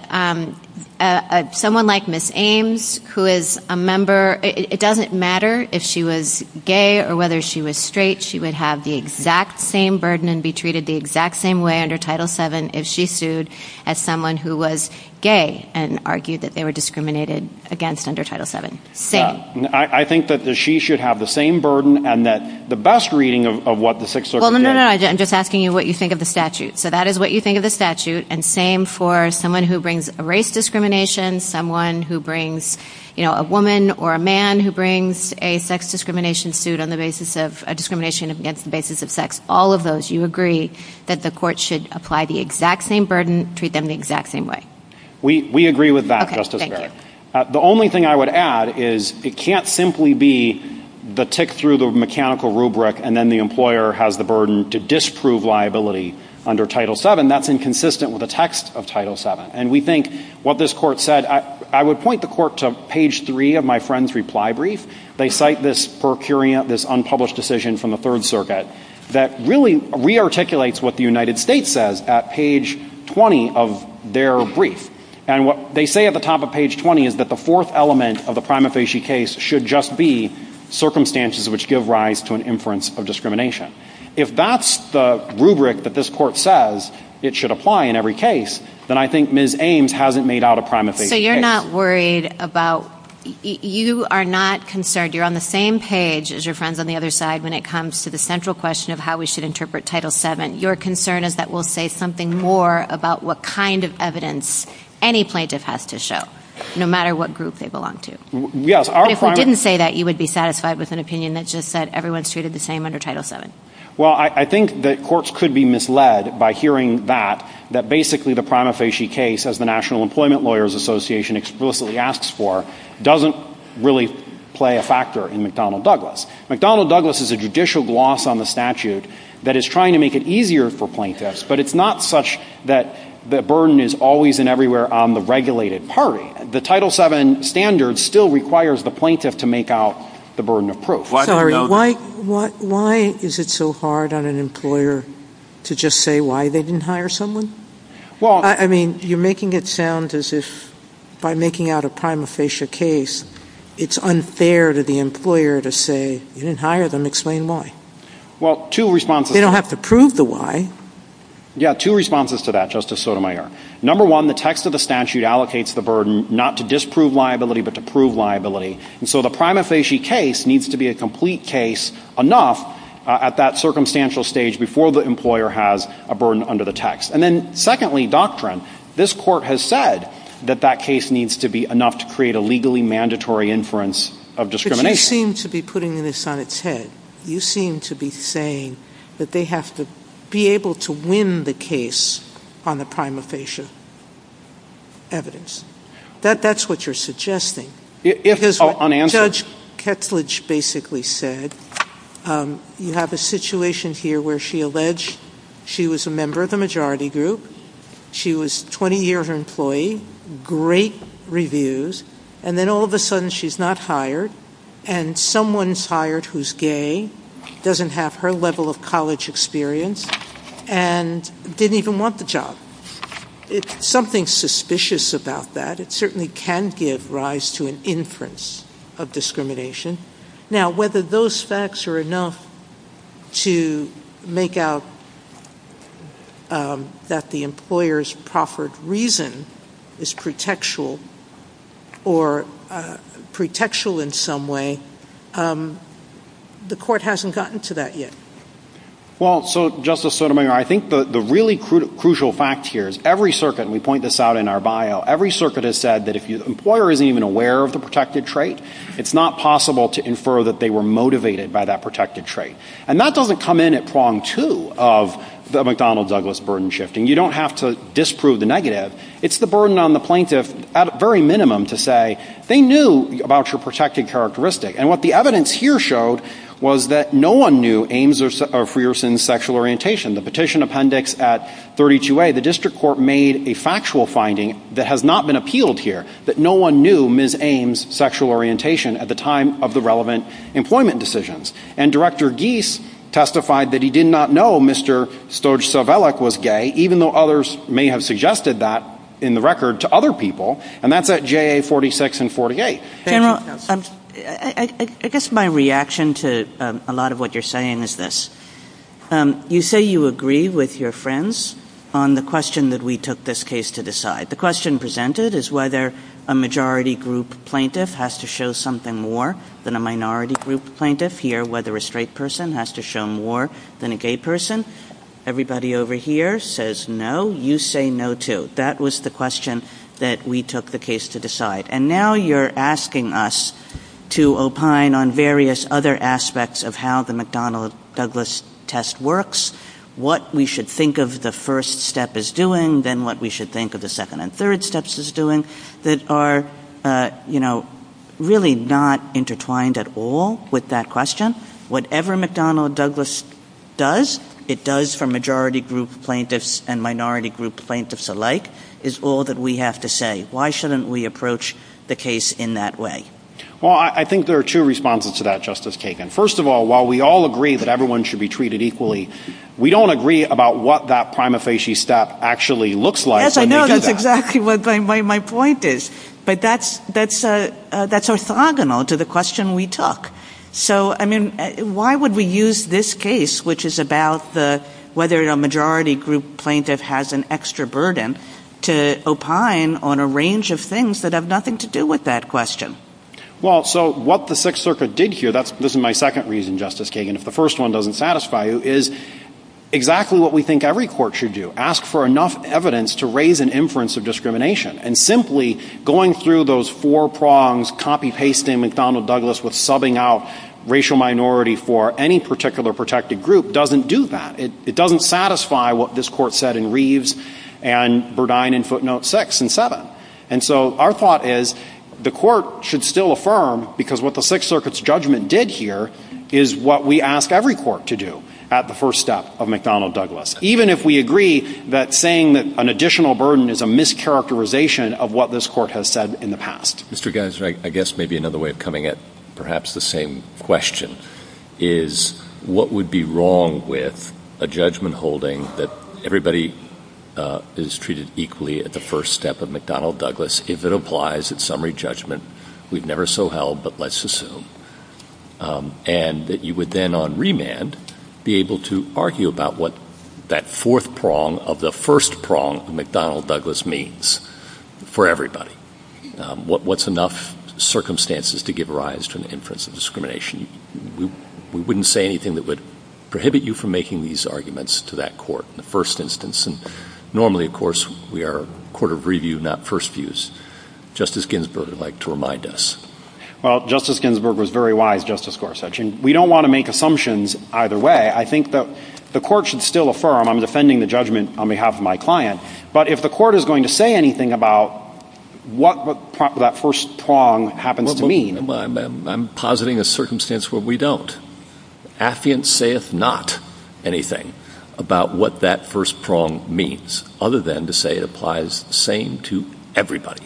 someone like Ms. Ames, who is a member — it doesn't matter if she was gay or whether she was straight, she would have the exact same burden and be treated the exact same way under Title VII if she sued as someone who was gay and argued that they were discriminated against under Title VII. Same. I think that she should have the same burden and that the best reading of what the Sixth Circuit gave — Well, no, no, no. I'm just asking you what you think of the statute. So that is what you think of the statute. And same for someone who brings a race discrimination, someone who brings — you know, a woman or a man who brings a sex discrimination suit on the basis of — a discrimination against the basis of sex. All of those, you agree that the court should apply the exact same burden, treat them the exact same way? We agree with that, Justice Kagan. The only thing I would add is it can't simply be the tick through the mechanical rubric and then the employer has the burden to disprove liability under Title VII. That's inconsistent with the text of Title VII. And we think what this court said — I would point the court to page three of my friend's reply brief. They cite this per curia — this unpublished decision from the Third Circuit that really re-articulates what the United States says at page 20 of their brief. And what they say at the top of page 20 is that the fourth element of the prima facie case should just be circumstances which give rise to an inference of discrimination. If that's the rubric that this court says it should apply in every case, then I think Ms. Ames hasn't made out a prima facie case. So you're not worried about — you are not concerned. You're on the same page as your friends on the other side when it comes to the central question of how we should interpret Title VII. Your concern is that we'll say something more about what kind of evidence any plaintiff has to show, no matter what group they belong to. Yes, our — But if we didn't say that, you would be satisfied with an opinion that just said everyone's treated the same under Title VII. Well, I think that courts could be misled by hearing that, that basically the prima facie case, as the National Employment Lawyers Association explicitly asks for, doesn't really play a factor in McDonnell Douglas. McDonnell Douglas is a judicial gloss on the statute that is trying to make it easier for plaintiffs, but it's not such that the burden is always and everywhere on the regulated party. The Title VII standard still requires the plaintiff to make out the burden of proof. Sorry, why — why is it so hard on an employer to just say why they didn't hire someone? Well — I mean, you're making it sound as if by making out a prima facie case, it's unfair to the employer to say, you didn't hire them, explain why. Well, two responses — They don't have to prove the why. Yeah, two responses to that, Justice Sotomayor. Number one, the text of the statute allocates the burden not to disprove liability, but to prove liability. And so the prima facie case needs to be a complete case enough at that circumstantial stage before the employer has a burden under the text. And then secondly, doctrine. This Court has said that that case needs to be enough to create a legally mandatory inference of discrimination. But you seem to be putting this on its head. You seem to be saying that they have to be able to win the case on the prima facie evidence. That — that's what you're suggesting. If — Because what Judge Ketledge basically said, you have a situation here where she alleged she was a member of the majority group, she was a 20-year-old employee, great reviews, and then all of a sudden she's not hired, and someone's hired who's gay, doesn't have her level of college experience, and didn't even want the job. Something's suspicious about that. It certainly can give rise to an inference of discrimination. Now whether those facts are enough to make out that the employer's proffered reason is pretextual or pretextual in some way, the Court hasn't gotten to that yet. Well, so Justice Sotomayor, I think the really crucial fact here is every circuit, and we point this out in our bio, every circuit has said that if the employer isn't even aware of the protected trait, it's not possible to infer that they were motivated by that protected trait. And that doesn't come in at prong two of the McDonnell-Douglas burden shifting. You don't have to disprove the negative. It's the burden on the plaintiff at very minimum to say they knew about your protected characteristic. And what the evidence here showed was that no one knew Ames or Frierson's sexual orientation. The petition appendix at 32A, the district court made a factual finding that has not been appealed here, that no one knew Ms. Ames' sexual orientation at the time of the relevant employment decisions. And even though others may have suggested that in the record to other people, and that's at JA 46 and 48. General, I guess my reaction to a lot of what you're saying is this. You say you agree with your friends on the question that we took this case to decide. The question presented is whether a majority group plaintiff has to show something more than a minority group plaintiff. Here, whether a straight person has to show more than a gay person. Everybody over here says no. You say no too. That was the question that we took the case to decide. And now you're asking us to opine on various other aspects of how the McDonnell-Douglas test works, what we should think of the first step as doing, then what we should think of the second and third steps as doing that are, you know, really not intertwined at all with that question. Whatever McDonnell-Douglas does, it does for majority group plaintiffs and minority group plaintiffs alike, is all that we have to say. Why shouldn't we approach the case in that way? Well, I think there are two responses to that, Justice Kagan. First of all, while we all agree that everyone should be treated equally, we don't agree about what that prima facie step actually looks like when we do that. Yes, I know. That's exactly what my point is. But that's orthogonal to the question we took. So, I mean, why would we use this case, which is about the whether a majority group plaintiff has an extra burden, to opine on a range of things that have nothing to do with that question? Well, so what the Sixth Circuit did here, this is my second reason, Justice Kagan, if the first one doesn't satisfy you, is exactly what we think every court should do, ask for enough evidence to raise an inference of discrimination. And simply going through those four prongs, copy-pasting McDonnell Douglas with subbing out racial minority for any particular protected group, doesn't do that. It doesn't satisfy what this Court said in Reeves and Burdine in footnote 6 and 7. And so our thought is the Court should still affirm, because what the Sixth Circuit's judgment did here is what we ask every court to do at the first step of McDonnell Douglas, even if we agree that saying that an additional burden is a mischaracterization of what this Court has said in the past. Mr. Geiser, I guess maybe another way of coming at perhaps the same question is what would be wrong with a judgment holding that everybody is treated equally at the first step of McDonnell Douglas if it applies at summary judgment, we've never so held, but let's assume, and that you would then on remand be able to argue about what that fourth prong of the first prong of McDonnell Douglas means for everybody. What's enough circumstances to give rise to an inference of discrimination? We wouldn't say anything that would prohibit you from making these arguments to that court in the first instance. And normally, of course, we are a court of review, not first views. Justice Ginsburg would like to remind us. Well, Justice Ginsburg was very wise, Justice Gorsuch, and we don't want to make assumptions either way. I think that the Court should still affirm, I'm defending the judgment on my client, but if the Court is going to say anything about what that first prong happens to mean — Well, I'm positing a circumstance where we don't. Affiant saith not anything about what that first prong means, other than to say it applies the same to everybody.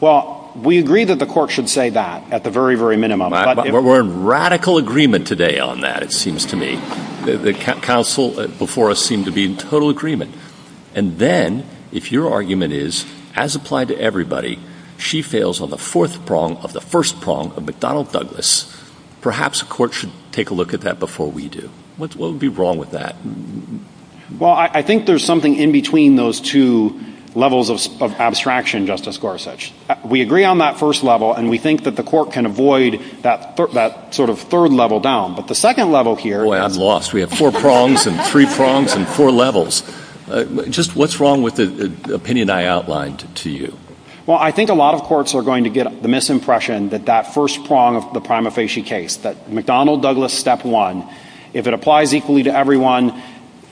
Well, we agree that the Court should say that at the very, very minimum, but if — We're in radical agreement today on that, it seems to me. The counsel before us seemed to be in total agreement. And then, if your argument is, as applied to everybody, she fails on the fourth prong of the first prong of McDonnell Douglas, perhaps the Court should take a look at that before we do. What would be wrong with that? Well, I think there's something in between those two levels of abstraction, Justice Gorsuch. We agree on that first level, and we think that the Court can avoid that sort of third level down. But the second level here — Boy, I'm lost. We have four prongs and three prongs and four levels. Just what's wrong with the opinion I outlined to you? Well, I think a lot of courts are going to get the misimpression that that first prong of the Prima Facie case, that McDonnell Douglas step one, if it applies equally to everyone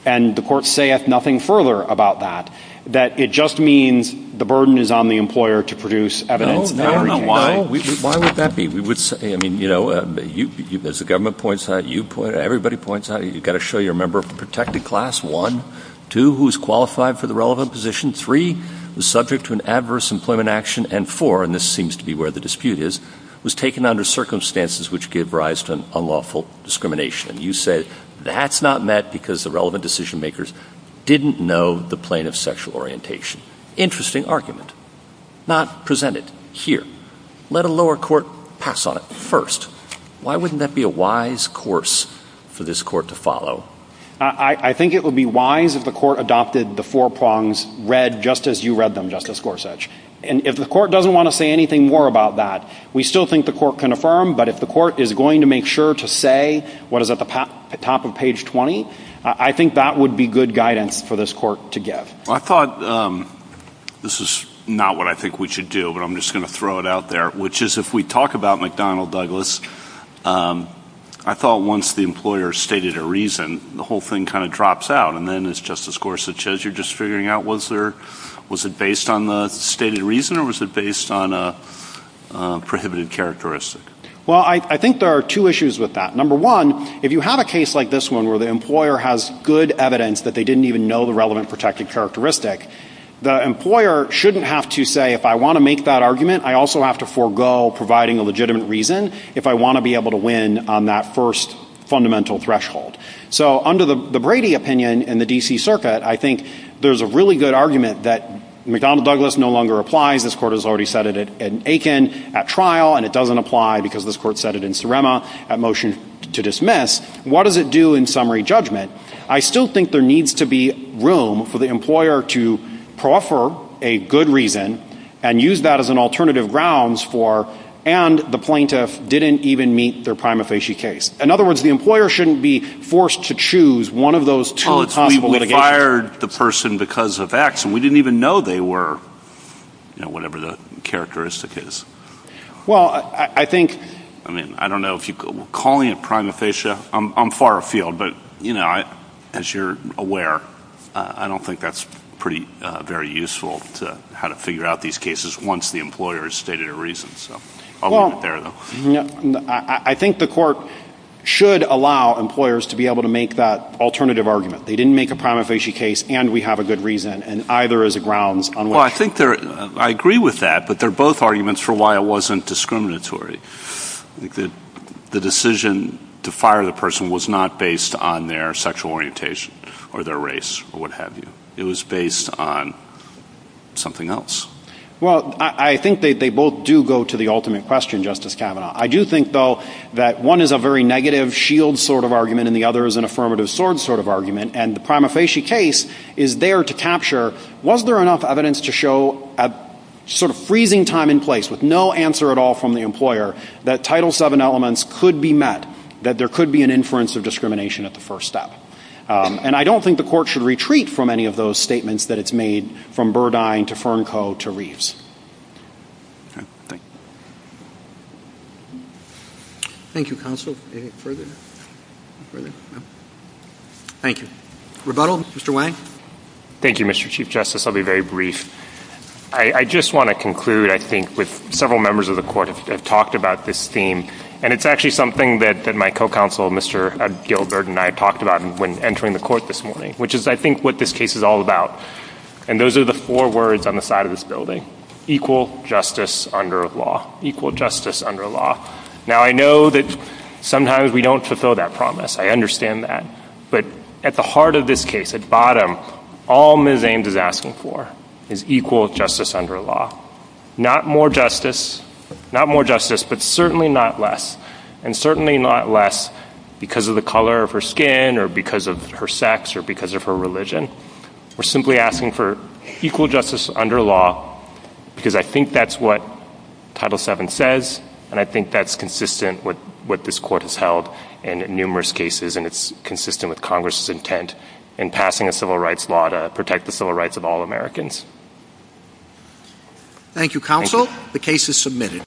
and the Court saith nothing further about that, that it just means the burden is on the employer to produce evidence in every case. No, no, no. Why would that be? We would say — I mean, you know, as the government points out, you point — everybody points out, you've got to show you're a member of a protected class, one. Two, who's qualified for the relevant position. Three, was subject to an adverse employment action. And four — and this seems to be where the dispute is — was taken under circumstances which gave rise to an unlawful discrimination. And you say that's not met because the relevant decision-makers didn't know the plane of sexual orientation. Interesting argument. Not presented here. Let a lower court pass on it first. Why wouldn't that be a wise course for this Court to follow? I think it would be wise if the Court adopted the four prongs read just as you read them, Justice Gorsuch. And if the Court doesn't want to say anything more about that, we still think the Court can affirm, but if the Court is going to make sure to say what is at the top of page 20, I think that would be good guidance for this Court to give. I thought — this is not what I think we should do, but I'm just going to throw it out there, which is if we talk about McDonnell-Douglas, I thought once the employer stated a reason, the whole thing kind of drops out. And then, as Justice Gorsuch says, you're just figuring out was there — was it based on the stated reason or was it based on a prohibited characteristic? Well, I think there are two issues with that. Number one, if you have a case like this one where the employer has good evidence that they didn't even know the relevant protected characteristic, the employer shouldn't have to say, if I want to make that argument, I also have to forego providing a legitimate reason if I want to be able to win on that first fundamental threshold. So under the Brady opinion in the D.C. Circuit, I think there's a really good argument that McDonnell-Douglas no longer applies. This Court has already said it in Aiken at trial, and it doesn't apply because this Court said it in Surrema at motion to dismiss. What does it do in summary judgment? I still think there needs to be room for the employer to proffer a good reason and use that as an alternative grounds for, and the plaintiff didn't even meet their prima facie case. In other words, the employer shouldn't be forced to choose one of those two possible litigations. Well, we fired the person because of X, and we didn't even know they were, you know, whatever the characteristic is. Well, I think — I mean, I don't know if you — calling it prima facie, I'm far afield, but, you know, as you're aware, I don't think that's pretty — very useful to — how to figure out these cases once the employer has stated a reason. So I'll leave it there, though. I think the Court should allow employers to be able to make that alternative argument. They didn't make a prima facie case, and we have a good reason, and either as a grounds on which — Well, I think there — I agree with that, but they're both arguments for why it wasn't sexual orientation or their race or what have you. It was based on something else. Well, I think they both do go to the ultimate question, Justice Kavanaugh. I do think, though, that one is a very negative shield sort of argument, and the other is an affirmative sword sort of argument, and the prima facie case is there to capture, was there enough evidence to show a sort of freezing time and place with no answer at all from the employer that Title VII elements could be met, that there could be an inference of discrimination at the first step. And I don't think the Court should retreat from any of those statements that it's made from Burdine to Fernco to Reeves. Okay. Thank you. Thank you, Counsel. Further? Further? No? Thank you. Rebuttal? Mr. Wang? Thank you, Mr. Chief Justice. I'll be very brief. I just want to conclude, I think, with several members of the Court have talked about this theme, and it's actually something that my co-counsel, Mr. Gilbert, and I talked about when entering the Court this morning, which is, I think, what this case is all about. And those are the four words on the side of this building, equal justice under law, equal justice under law. Now, I know that sometimes we don't fulfill that promise. I understand that. But at the heart of this case, at bottom, all Ms. Ames is asking for is equal justice under law, not more justice, not more justice, but certainly not less, and certainly not less because of the color of her skin or because of her sex or because of her religion. We're simply asking for equal justice under law because I think that's what Title VII says, and I think that's consistent with what this Court has held in numerous cases, and it's consistent with Congress's intent in passing a civil rights law to protect the civil rights of all Americans. Thank you, Counsel. The case is submitted.